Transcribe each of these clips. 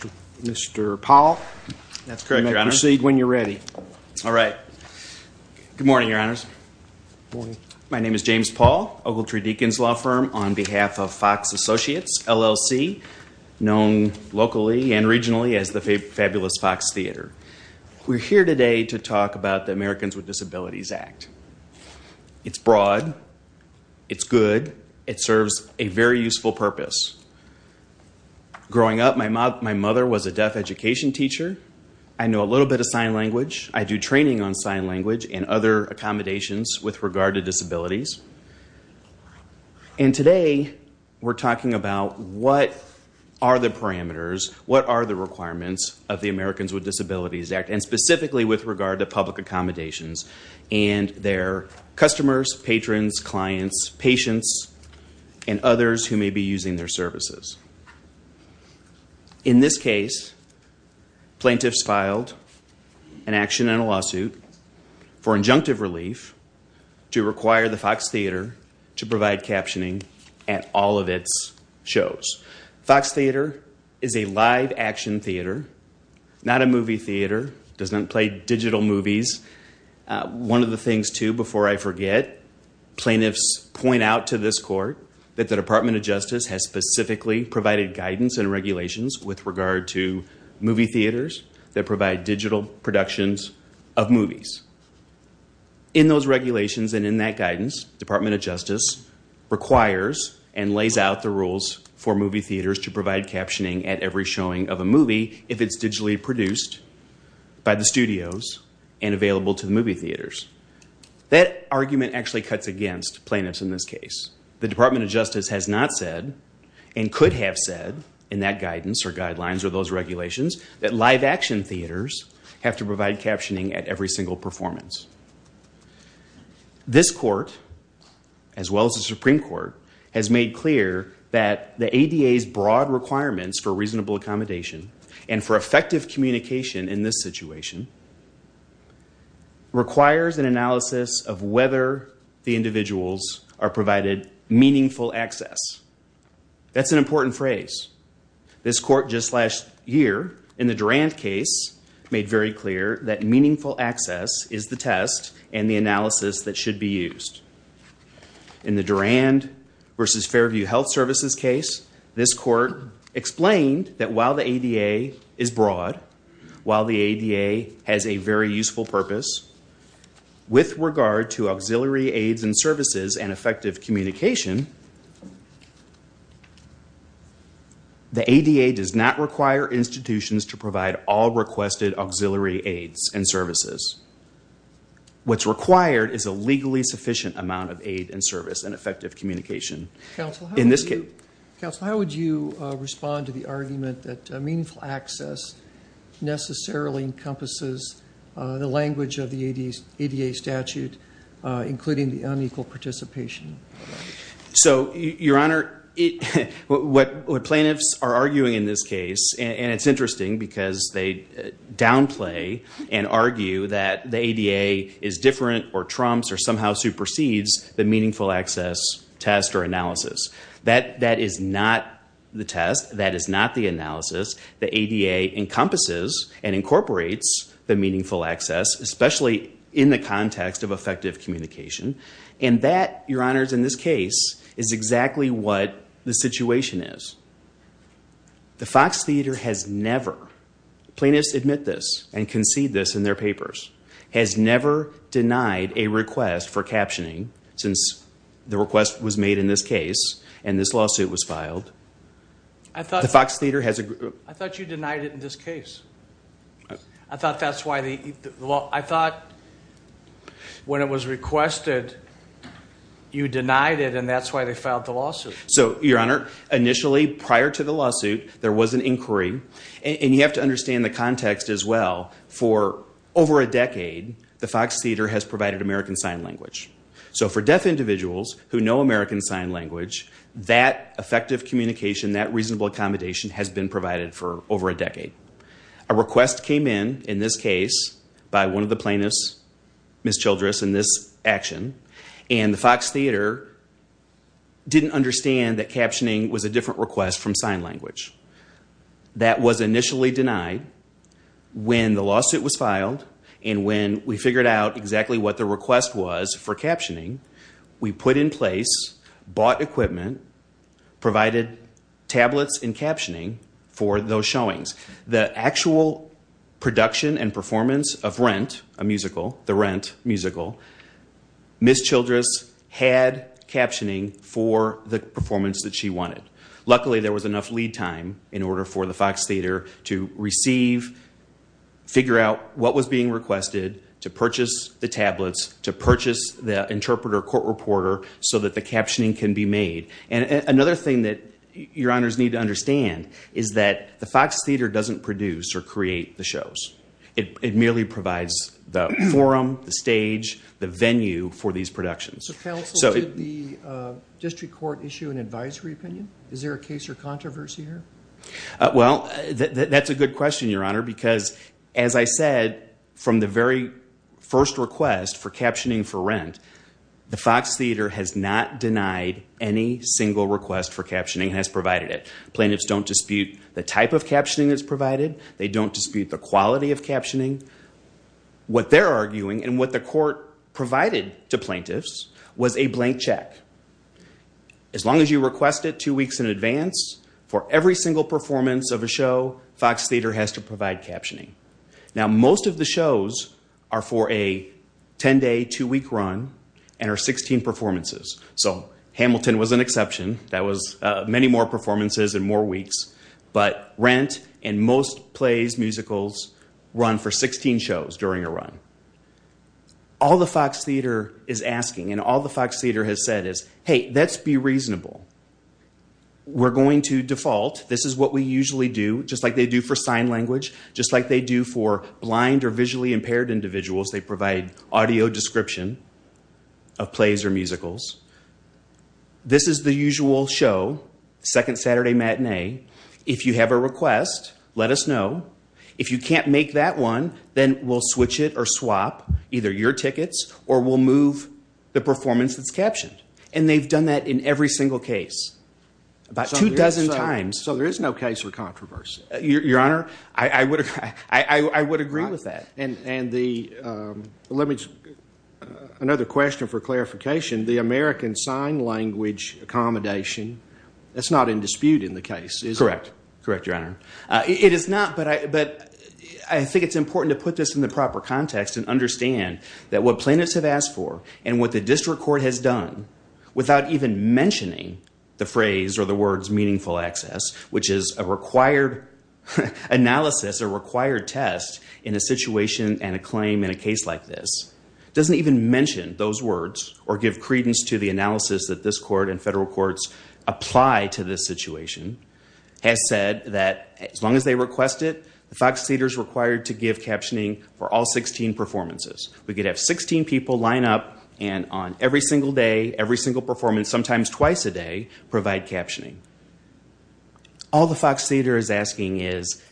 Good morning, Your Honors. My name is James Paul, Ogletree Deakins Law Firm, on behalf of Fox Associates, LLC, known locally and regionally as the Fabulous Fox Theater. We're here today to talk about the Americans with Disabilities Act. It's broad. It's good. It serves a very useful purpose. Growing up, my mother was a deaf education teacher. I know a little bit of sign language. I do training on sign language and other accommodations with regard to disabilities. And today, we're talking about what are the parameters, what accommodations and their customers, patrons, clients, patients, and others who may be using their services. In this case, plaintiffs filed an action and a lawsuit for injunctive relief to require the Fox Theater to provide captioning at all of its shows. Fox Theater is a live action theater, not a movie theater, doesn't play digital movies. One of the things, too, before I forget, plaintiffs point out to this court that the Department of Justice has specifically provided guidance and regulations with regard to movie theaters that provide digital productions of movies. In those regulations and in that guidance, Department of Justice requires and movie if it's digitally produced by the studios and available to the movie theaters. That argument actually cuts against plaintiffs in this case. The Department of Justice has not said and could have said in that guidance or guidelines or those regulations that live action theaters have to provide captioning at every single performance. This court, as well as the Supreme Court, has made clear that the ADA's broad requirements for reasonable accommodation and for effective communication in this situation requires an analysis of whether the individuals are provided meaningful access. That's an important phrase. This court just last year, in the Durand case, made very clear that meaningful access is the test and the analysis that should be used. In the Durand versus Fairview Health Services case, this court said that while the ADA is broad, while the ADA has a very useful purpose, with regard to auxiliary aids and services and effective communication, the ADA does not require institutions to provide all requested auxiliary aids and services. What's required is a legally sufficient amount of aid and service and effective communication in this case. Counsel, how would you respond to the argument that meaningful access necessarily encompasses the language of the ADA statute, including the unequal participation? So, Your Honor, what plaintiffs are arguing in this case, and it's interesting because they downplay and argue that the ADA is different or trumps or somehow supersedes the meaningful access test or analysis. That is not the test. That is not the analysis. The ADA encompasses and incorporates the meaningful access, especially in the context of effective communication. And that, Your Honors, in this case, is exactly what the situation is. The Fox Theater has never, plaintiffs admit this and concede this in their papers, has never denied a request for captioning since the request was made in this case and this lawsuit was filed. I thought you denied it in this case. I thought that's why the law, I thought when it was requested you denied it and that's why they filed the lawsuit. So, Your Honor, initially, prior to the lawsuit, there was an inquiry, and you have to understand in the context as well, for over a decade, the Fox Theater has provided American Sign Language. So, for deaf individuals who know American Sign Language, that effective communication, that reasonable accommodation has been provided for over a decade. A request came in, in this case, by one of the plaintiffs, Ms. Childress, in this action, and the Fox Theater didn't understand that captioning was a different request from sign language. That was initially denied when the lawsuit was filed and when we figured out exactly what the request was for captioning, we put in place, bought equipment, provided tablets and captioning for those showings. The actual production and performance of Rent, a musical, the Rent musical, Ms. Childress, was the performance that she wanted. Luckily, there was enough lead time in order for the Fox Theater to receive, figure out what was being requested, to purchase the tablets, to purchase the interpreter, court reporter, so that the captioning can be made. Another thing that Your Honors need to understand is that the Fox Theater doesn't produce or create the shows. It merely provides the forum, the stage, the venue for these productions. So counsel, did the district court issue an advisory opinion? Is there a case or controversy here? Well, that's a good question, Your Honor, because as I said, from the very first request for captioning for Rent, the Fox Theater has not denied any single request for captioning and has provided it. Plaintiffs don't dispute the type of captioning that's provided. They don't dispute the quality of captioning. What they're arguing and what the court provided to plaintiffs was a blank check. As long as you request it two weeks in advance, for every single performance of a show, Fox Theater has to provide captioning. Now most of the shows are for a 10-day, two-week run and are 16 performances. So Hamilton was an exception. That was many more performances in more weeks. But Rent and most plays, musicals, run for 16 shows during a run. All the Fox Theater is asking and all the Fox Theater has said is, hey, let's be reasonable. We're going to default. This is what we usually do, just like they do for sign language, just like they do for blind or visually impaired individuals. They provide audio description of plays or musicals. This is the usual show, second Saturday matinee. If you have a request, let us know. If you can't make that one, then we'll switch it or swap either your tickets or we'll move the performance that's captioned. And they've done that in every single case. About two dozen times. So there is no case for controversy? Your Honor, I would agree with that. And another question for clarification, the American Sign Language accommodation, that's not in dispute in the case, is it? Correct. Correct, Your Honor. It is not, but I think it's important to put this in the proper context and understand that what plaintiffs have asked for and what the district court has done without even mentioning the phrase or the words meaningful access, which is a required analysis, a required test in a situation and a claim in a case like this, doesn't even mention those words or give credence to the analysis that this court and federal courts apply to this situation, has said that as long as they request it, the Fox Theater is required to give captioning for all 16 performances. We could have 16 people line up and on every single day, every single performance, sometimes twice a day, provide captioning. All the Fox Theater is asking is,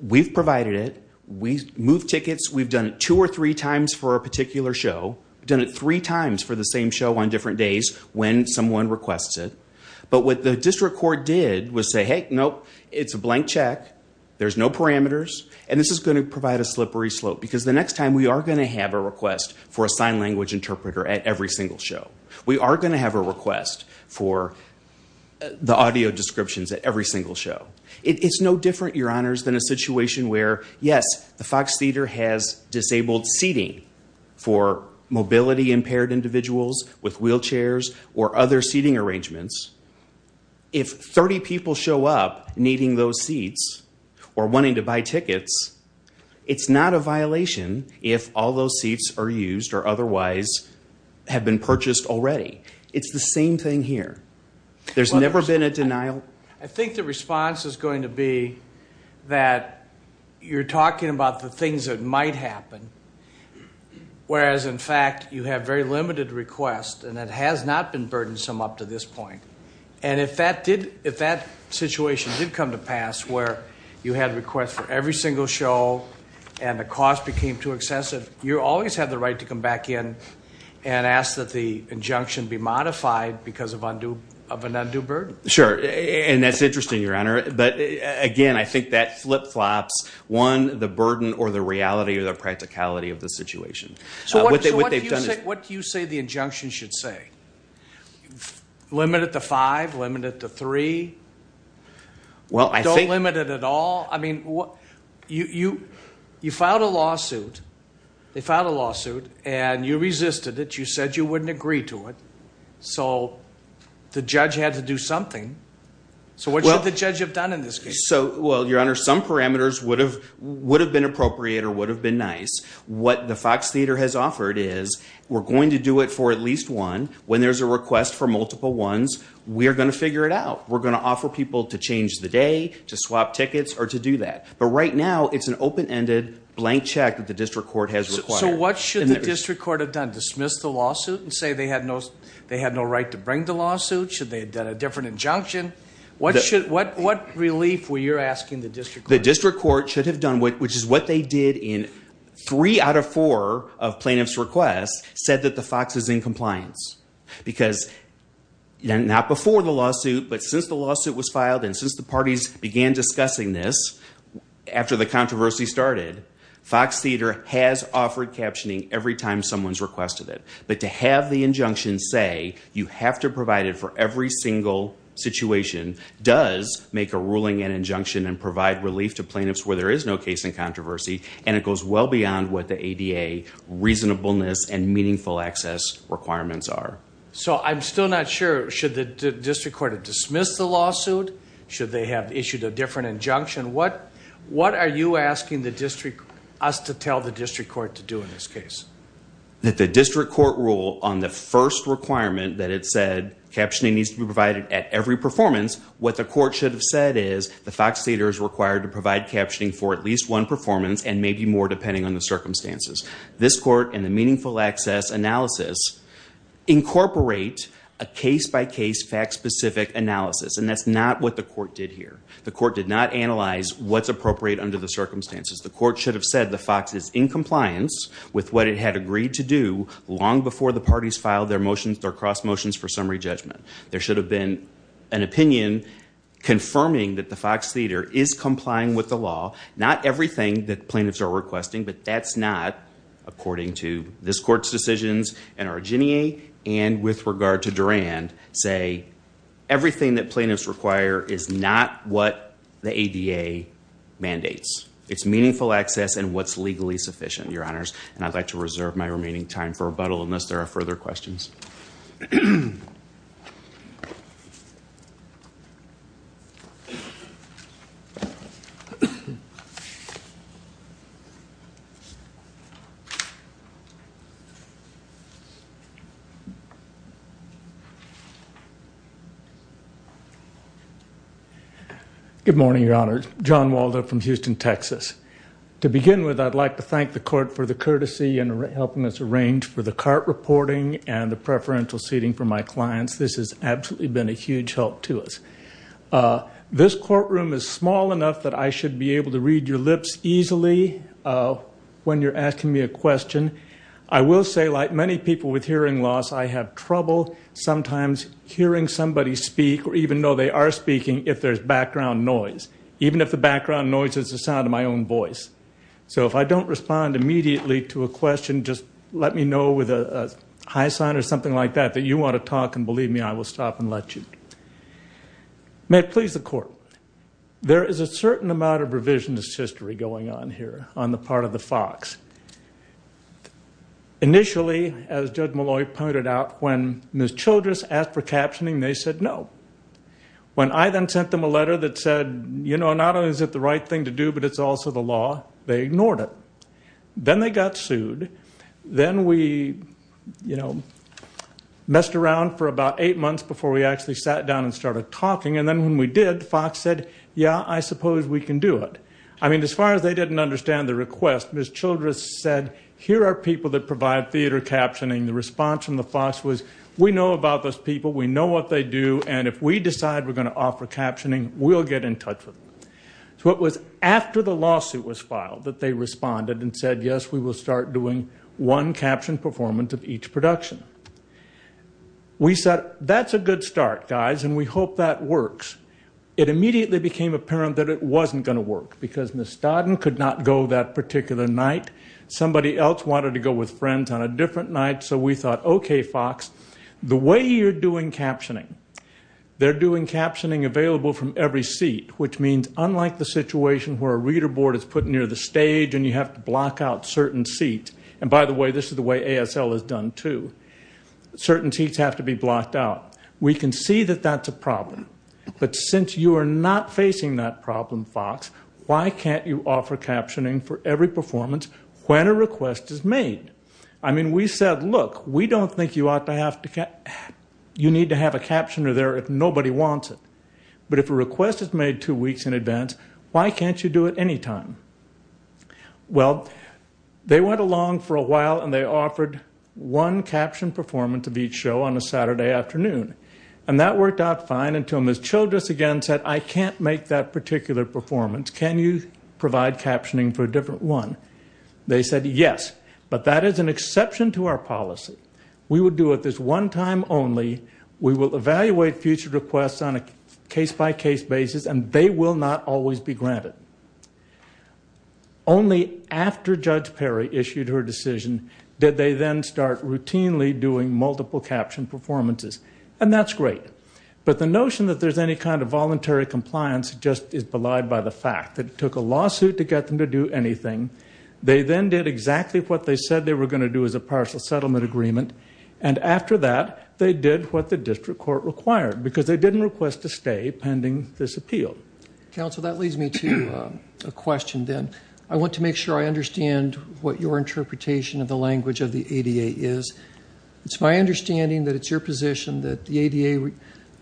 we've provided it, we've moved tickets, we've done it two or three times for a particular show, done it three times for the same show on different days, and the district court requests it. But what the district court did was say, hey, nope, it's a blank check, there's no parameters, and this is going to provide a slippery slope because the next time we are going to have a request for a sign language interpreter at every single show. We are going to have a request for the audio descriptions at every single show. It's no different, Your Honors, than a situation where, yes, the Fox Theater has disabled seating for mobility-impaired individuals with wheelchairs or other seating arrangements. If 30 people show up needing those seats or wanting to buy tickets, it's not a violation if all those seats are used or otherwise have been purchased already. It's the same thing here. There's never been a denial. I think the response is going to be that you're talking about the things that might happen, whereas, in fact, you have very limited requests, and it has not been burdensome up to this point. And if that situation did come to pass where you had requests for every single show and the cost became too excessive, you always have the right to come back in and ask that the injunction be modified because of an undue burden. Sure. And that's interesting, Your Honor. But, again, I think that flip-flops, one, the burden or the reality or the practicality of the situation. So what do you say the injunction should say? Limit it to five? Limit it to three? Don't limit it at all? I mean, you filed a lawsuit. They filed a lawsuit, and you resisted it. You said you wouldn't agree to it. So the judge had to do something. So what should the judge have done in this case? So, well, Your Honor, some parameters would have been appropriate or would have been nice. What the Fox Theater has offered is we're going to do it for at least one. When there's a request for multiple ones, we are going to figure it out. We're going to offer people to change the day, to swap tickets, or to do that. But right now, it's an open-ended blank check that the district court has required. So what should the district court have done? Dismiss the lawsuit and say they had no right to bring the lawsuit? Should they have done a different injunction? What relief were you asking the district court? The district court should have done, which is what they did in three out of four of plaintiff's requests, said that the Fox is in compliance. Because not before the lawsuit, but since the lawsuit was filed and since the parties began discussing this after the controversy started, Fox Theater has offered captioning every time someone's requested it. But to have the injunction say you have to provide it for every single situation does make a ruling and injunction and provide relief to plaintiffs where there is no case in controversy, and it goes well beyond what the ADA reasonableness and meaningful access requirements are. So I'm still not sure. Should the district court have dismissed the lawsuit? Should they have issued a different injunction? What are you asking us to tell the district court to do in this case? That the district court rule on the first requirement that it said captioning needs to be provided at every performance, what the court should have said is the Fox Theater is required to provide captioning for at least one performance and maybe more depending on the circumstances. This court and the meaningful access analysis incorporate a case-by-case fact-specific analysis, and that's not what the court did here. The court did not analyze what's appropriate under the circumstances. The court should have said the Fox is in compliance with what it had agreed to do long before the parties filed their motions, their cross motions for summary judgment. There should have been an opinion confirming that the Fox Theater is complying with the law. Not everything that plaintiffs are requesting, but that's not according to this court's decisions and our Ginnie and with regard to Durand say everything that plaintiffs require is not what the ADA mandates. It's meaningful access and what's required. I'd like to reserve my remaining time for rebuttal unless there are further questions. Good morning, your honors. John Waldo from Houston, Texas. To begin with, I'd like to thank you for your courtesy in helping us arrange for the CART reporting and the preferential seating for my clients. This has absolutely been a huge help to us. This courtroom is small enough that I should be able to read your lips easily when you're asking me a question. I will say like many people with hearing loss, I have trouble sometimes hearing somebody speak or even though they are speaking if there's background noise, even if the background noise is the sound of my own voice. So if I don't respond immediately to a question, just let me know with a high sign or something like that that you want to talk and believe me I will stop and let you. May it please the court, there is a certain amount of revisionist history going on here on the part of the Fox. Initially, as Judge Malloy pointed out, when Ms. Childress asked for captioning, they said no. When I then sent them a letter that said, you know, not only is it the right thing to do, but it's also the law, they ignored it. Then they got sued. Then we, you know, messed around for about eight months before we actually sat down and started talking. And then when we did, Fox said, yeah, I suppose we can do it. I mean, as far as they didn't understand the request, Ms. Childress said, here are people that provide theater captioning. The response from the Fox was, we know about those people. We know what they do. And if we decide we're going to offer captioning, we'll get in touch with them. So it was after the lawsuit was filed that they responded and said, yes, we will start doing one captioned performance of each production. We said, that's a good start, guys, and we hope that works. It immediately became apparent that it wasn't going to work because Ms. Dodden could not go that particular night. Somebody else wanted to go with friends on a different night. So we thought, okay, Fox, the way you're doing captioning, they're doing captioning available from every seat, which means unlike the situation where a reader board is put near the stage and you have to block out certain seats, and by the way, this is the way ASL is done, too. Certain seats have to be blocked out. We can see that that's a problem. But since you are not facing that problem, Fox, why can't you offer captioning for every performance when a request is made? I mean, we said, look, we don't think you need to have a captioner there if nobody wants it. But if a request is made two weeks in advance, why can't you do it any time? Well, they went along for a while and they offered one captioned performance of each show on a Saturday afternoon, and that worked out fine until Ms. Childress again said, I can't make that particular performance. Can you provide captioning for a different one? They said, yes, but that is an exception to our policy. We would do it this one time only. We will evaluate future requests on a case-by-case basis, and they will not always be granted. Only after Judge Perry issued her decision did they then start routinely doing multiple captioned performances, and that's great. But the notion that there's any kind of voluntary compliance just is belied by the fact that it took a lawsuit to get them to do anything. They then did exactly what they said they were going to do as a partial settlement agreement, and after that, they did what the district court required, because they didn't request a stay pending this appeal. Counsel, that leads me to a question then. I want to make sure I understand what your interpretation of the language of the ADA is. It's my understanding that it's your position that the ADA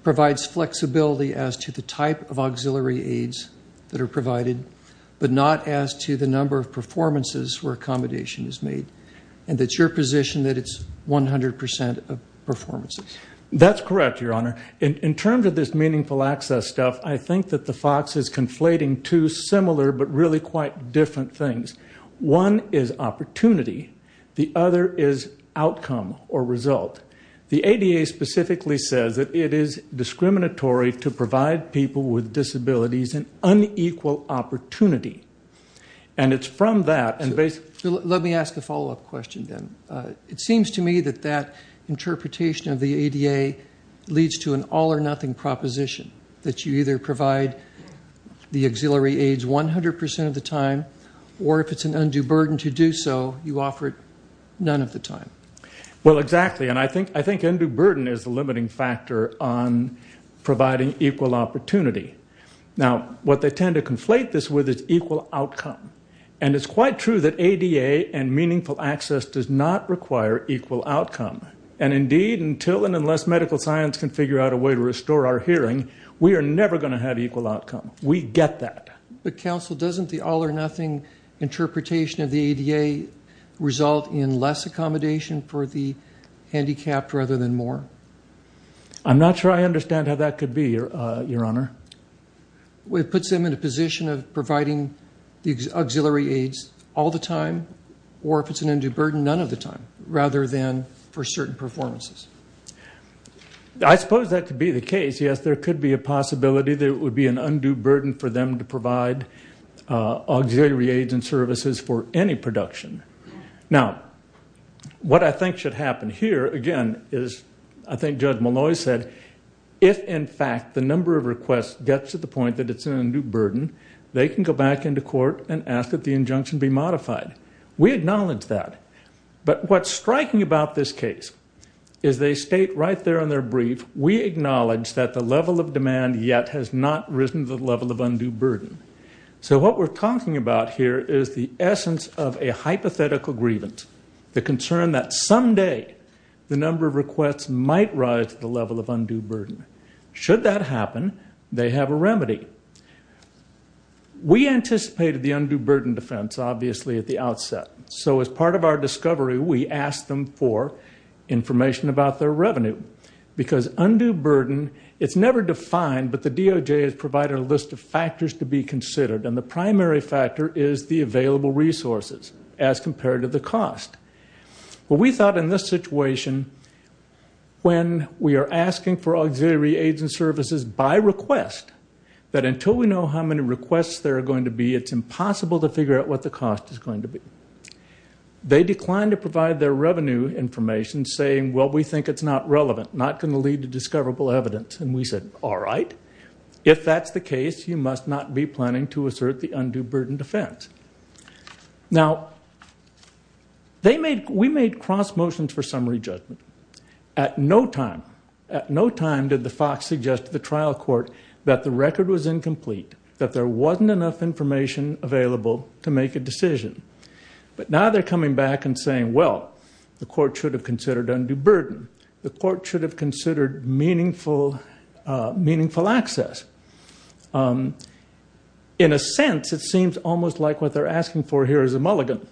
provides flexibility as to the type of auxiliary aids that are provided, but not as to the number of performances where accommodation is made, and it's your position that it's 100% of performances. That's correct, Your Honor. In terms of this meaningful access stuff, I think that the FOX is conflating two similar but really quite different things. One is opportunity. The other is outcome or result. The ADA specifically says that it is discriminatory to provide people with disabilities an unequal opportunity, and it's from that and basically... Let me ask a follow-up question then. It seems to me that that interpretation of the ADA leads to an all or nothing proposition, that you either provide the auxiliary aids 100% of the time, or if it's an undue burden to do so, you offer it none of the time. Well, exactly, and I think undue burden is the limiting factor on providing equal opportunity. Now, what they tend to conflate this with is equal outcome, and it's quite true that ADA and meaningful access does not require equal outcome, and indeed, until and unless medical science can figure out a way to restore our hearing, we are never going to have equal outcome. We get that. But, counsel, doesn't the all or nothing interpretation of the ADA result in less accommodation for the handicapped rather than more? I'm not sure I understand how that could be, Your Honor. It puts them in a position of providing the auxiliary aids all the time, or if it's an undue burden, none of the time, rather than for certain performances. I suppose that could be the case. Yes, there could be a possibility there would be an undue burden for them to provide auxiliary aids and services for any production. Now, what I think should happen here, again, is I think Judge Molloy said, if in fact the number of requests gets to the point that it's an undue burden, they can go back into court and ask that the injunction be modified. We acknowledge that, but what's striking about this case is they state right there on their So, what we're talking about here is the essence of a hypothetical grievance, the concern that someday the number of requests might rise to the level of undue burden. Should that happen, they have a remedy. We anticipated the undue burden defense, obviously, at the outset. So, as part of our discovery, we asked them for information about their revenue, because undue burden, it's never defined, but the DOJ has provided a list of factors to be considered, and the primary factor is the available resources as compared to the cost. Well, we thought in this situation, when we are asking for auxiliary aids and services by request, that until we know how many requests there are going to be, it's impossible to figure out what the cost is going to be. They declined to provide their revenue information, saying, well, we think it's not relevant, not going to lead to discoverable evidence. And we said, all right. If that's the case, you must not be planning to assert the undue burden defense. Now, we made cross motions for summary judgment. At no time, at no time did the Fox suggest to the trial court that the record was incomplete, that there wasn't enough information available to make a decision. But now they're coming back and saying, well, the court should have considered undue burden. The court should have considered meaningful access. In a sense, it seems almost like what they're asking for here is a mulligan.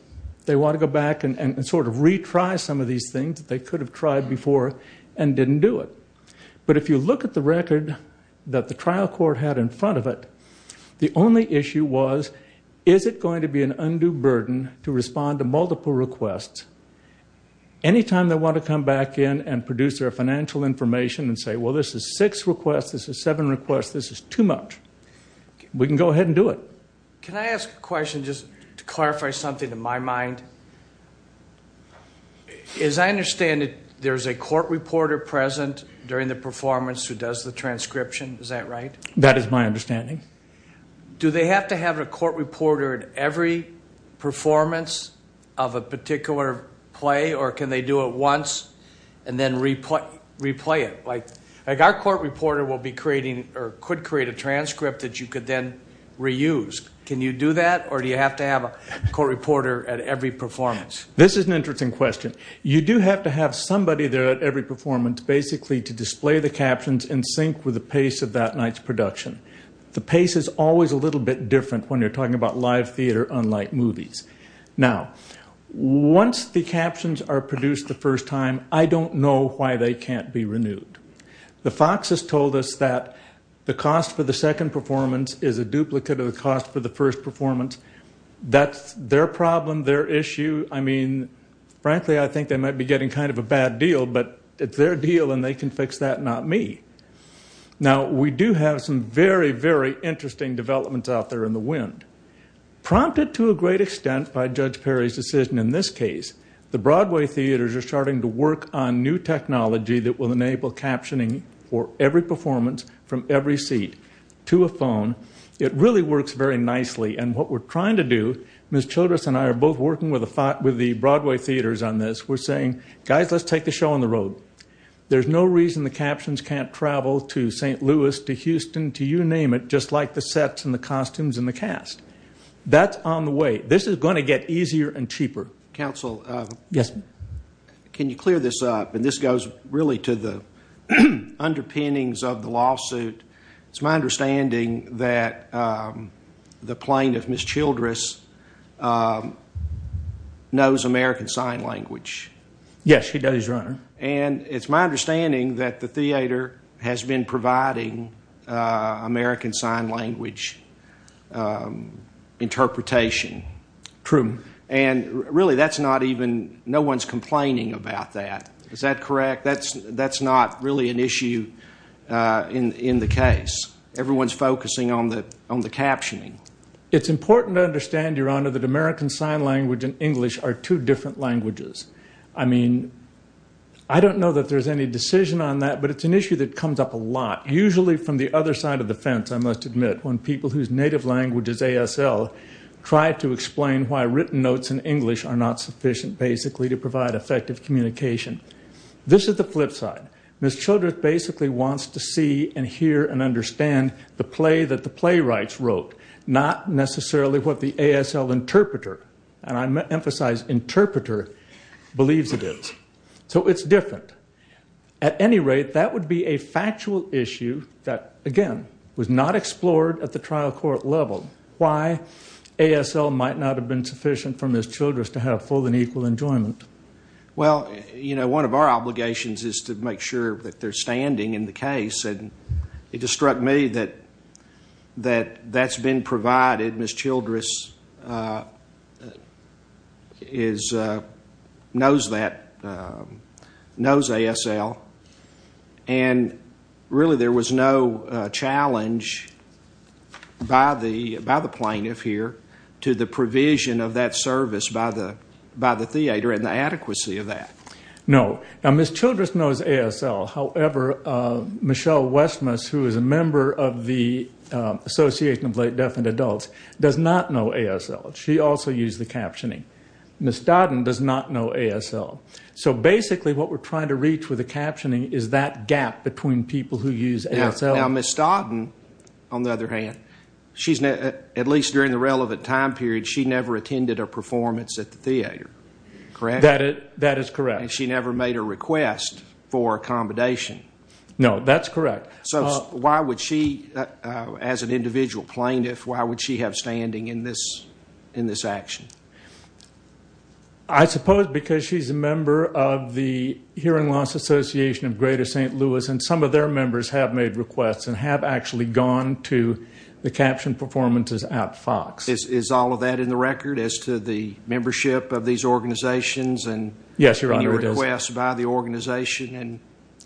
They want to go back and sort of retry some of these things that they could have tried before and didn't do it. But if you look at the record that the trial court had in front of it, the only issue was, is it going to be an undue burden to respond to multiple requests? Any time they want to come back in and produce their financial information and say, well, this is six requests, this is seven requests, this is too much, we can go ahead and do it. Can I ask a question just to clarify something in my mind? As I understand it, there's a court reporter present during the performance who does the transcription, is that right? That is my understanding. Do they have to have a court reporter at every performance of a particular play or can they do it once and then replay it? Like our court reporter will be creating or could create a transcript that you could then reuse. Can you do that or do you have to have a court reporter at every performance? This is an interesting question. You do have to have somebody there at every performance basically to display the captions in sync with the pace of that night's production. The pace is always a little bit different when you're talking about live theater unlike movies. Now, once the captions are produced the first time, I don't know why they can't be renewed. The Fox has told us that the cost for the second performance is a duplicate of the cost for the first performance. That's their problem, their issue. I mean, frankly, I think they might be getting kind of a bad deal, but it's their deal and they can fix that, not me. Now, we do have some very, very interesting developments out there in the wind. Prompted to a great extent by Judge Perry's decision in this case, the Broadway theaters are starting to work on new technology that will enable captioning for every performance from every seat to a phone. It really works very nicely, and what we're trying to do, Ms. Childress and I are both working with the Broadway theaters on this. We're saying, guys, let's take the show on the road. There's no reason the captions can't travel to St. Louis, to Houston, to you name it, just like the sets and the costumes and the cast. That's on the way. This is going to get easier and cheaper. Counsel? Yes. Can you clear this up? And this goes really to the underpinnings of the lawsuit. It's my understanding that the plaintiff, Ms. Childress, knows American Sign Language. Yes, he does, Your Honor. And it's my understanding that the theater has been providing American Sign Language interpretation. True. And really, no one's complaining about that. Is that correct? That's not really an issue in the case. Everyone's focusing on the captioning. It's important to understand, Your Honor, that American Sign Language and English are two different languages. I mean, I don't know that there's any decision on that, but it's an issue that comes up a lot, usually from the other side of the fence, I must admit, when people whose native language is ASL try to explain why written notes in English are not sufficient, basically, to provide effective communication. This is the flip side. Ms. Childress basically wants to see and hear and understand the play that the playwrights wrote, not necessarily what the ASL interpreter, and I emphasize interpreter, believes it is. So it's different. At any rate, that would be a factual issue that, again, was not explored at the trial court level, why ASL might not have been sufficient for Ms. Childress to have full and equal enjoyment. Well, you know, one of our obligations is to make sure that they're standing in the case, and it just struck me that that's been provided. Ms. Childress knows that, knows ASL, and really there was no challenge by the plaintiff here to the provision of that service by the theater, and the adequacy of that. No. Now, Ms. Childress knows ASL. However, Michelle Westmus, who is a member of the Association of Late Deaf and Adults, does not know ASL. She also used the captioning. Ms. Dodden does not know ASL. So basically what we're trying to reach with the captioning is that gap between people who use ASL. Now, Ms. Dodden, on the other hand, at least during the relevant time period, she never attended a performance at the theater, correct? That is correct. And she never made a request for accommodation. No, that's correct. So why would she, as an individual plaintiff, why would she have standing in this action? I suppose because she's a member of the Hearing Loss Association of Greater St. Louis, and some of their members have made requests and have actually gone to the captioned performances at Fox. Is all of that in the record as to the membership of these organizations and any requests by the organization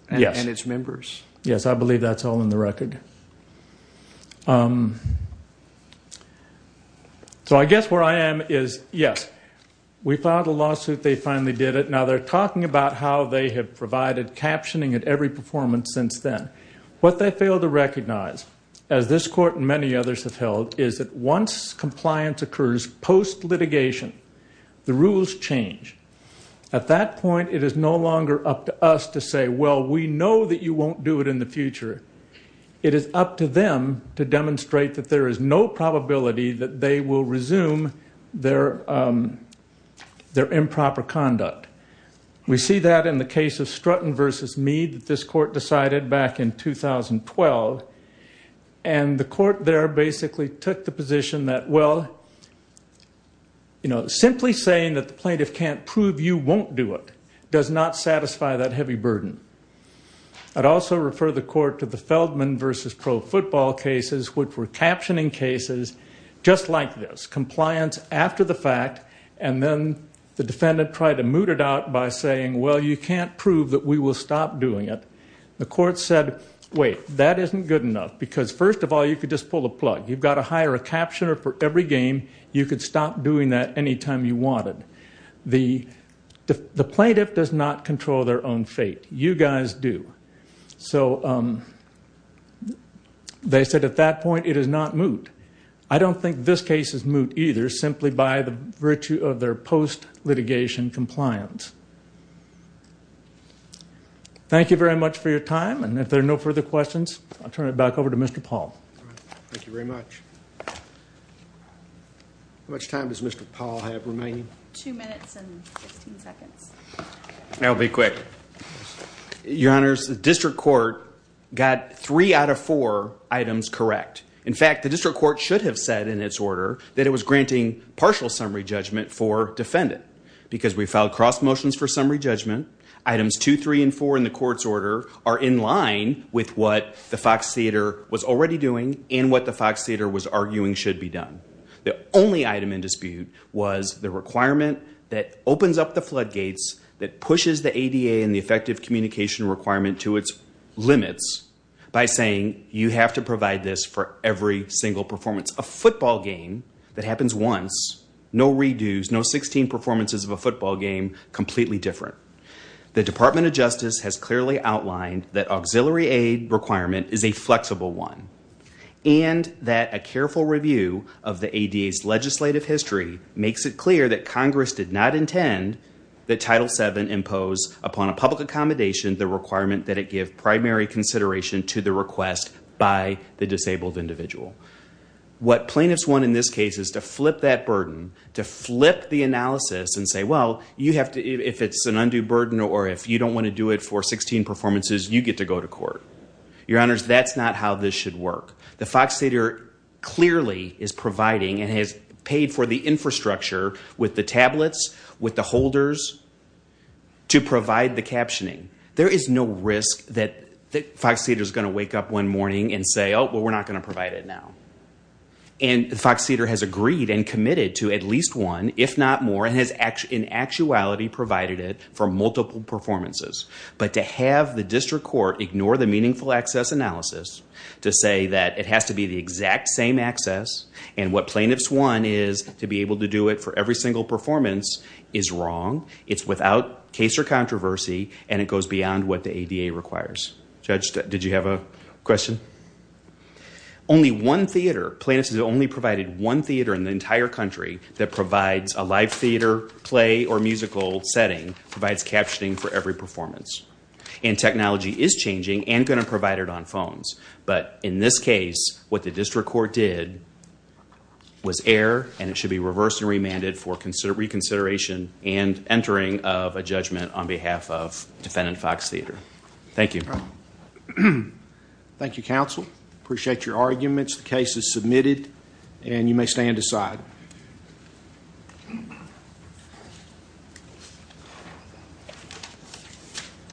and its members? Yes, I believe that's all in the record. So I guess where I am is, yes, we filed a lawsuit. They finally did it. Now, they're talking about how they have provided captioning at every performance since then. What they fail to recognize, as this court and many others have held, is that once compliance occurs post-litigation, the rules change. At that point, it is no longer up to us to say, well, we know that you won't do it in the future. It is up to them to demonstrate that there is no probability that they will resume their improper conduct. We see that in the case of Strutton v. Meade that this court decided back in 2012, and the court there basically took the position that, well, simply saying that the plaintiff can't prove you won't do it does not satisfy that heavy burden. I'd also refer the court to the Feldman v. Pro Football cases, which were captioning cases just like this, compliance after the fact, and then the defendant tried to moot it out by saying, well, you can't prove that we will stop doing it. The court said, wait, that isn't good enough because, first of all, you could just pull the plug. You've got to hire a captioner for every game. You could stop doing that any time you wanted. The plaintiff does not control their own fate. You guys do. So they said at that point it is not moot. I don't think this case is moot either simply by the virtue of their post-litigation compliance. Thank you very much for your time, and if there are no further questions, I'll turn it back over to Mr. Paul. Thank you very much. How much time does Mr. Paul have remaining? Two minutes and 15 seconds. I'll be quick. Your Honors, the district court got three out of four items correct. In fact, the district court should have said in its order that it was granting partial summary judgment for defendant because we filed cross motions for summary judgment. Items two, three, and four in the court's order are in line with what the Fox Theater was already doing and what the Fox Theater was arguing should be done. The only item in dispute was the requirement that opens up the floodgates that pushes the ADA and the effective communication requirement to its limits by saying you have to provide this for every single performance. A football game that happens once, no redos, no 16 performances of a football game, completely different. The Department of Justice has clearly outlined that auxiliary aid requirement is a flexible one and that a careful review of the ADA's legislative history makes it clear that Congress did not intend that Title VII impose upon a public accommodation the requirement that it give primary consideration to the request by the disabled individual. What plaintiffs want in this case is to flip that burden, to flip the analysis and say, well, if it's an undue burden or if you don't want to do it for 16 performances, you get to go to court. Your Honors, that's not how this should work. The Fox Theater clearly is providing and has paid for the infrastructure with the tablets, with the holders to provide the captioning. There is no risk that Fox Theater is going to wake up one morning and say, oh, well, we're not going to provide it now. And Fox Theater has agreed and committed to at least one, if not more, and has in actuality provided it for multiple performances. But to have the district court ignore the meaningful access analysis to say that it has to be the exact same access and what plaintiffs want is to be able to do it for every single performance is wrong. It's without case or controversy and it goes beyond what the ADA requires. Judge, did you have a question? Only one theater, plaintiffs have only provided one theater in the entire country that provides a live theater, play or musical setting, provides captioning for every performance. And technology is changing and going to provide it on phones. But in this case, what the district court did was err and it should be reversed and remanded for reconsideration and entering of a judgment on behalf of defendant Fox Theater. Thank you. Thank you, counsel. Appreciate your arguments. The case is submitted and you may stand aside.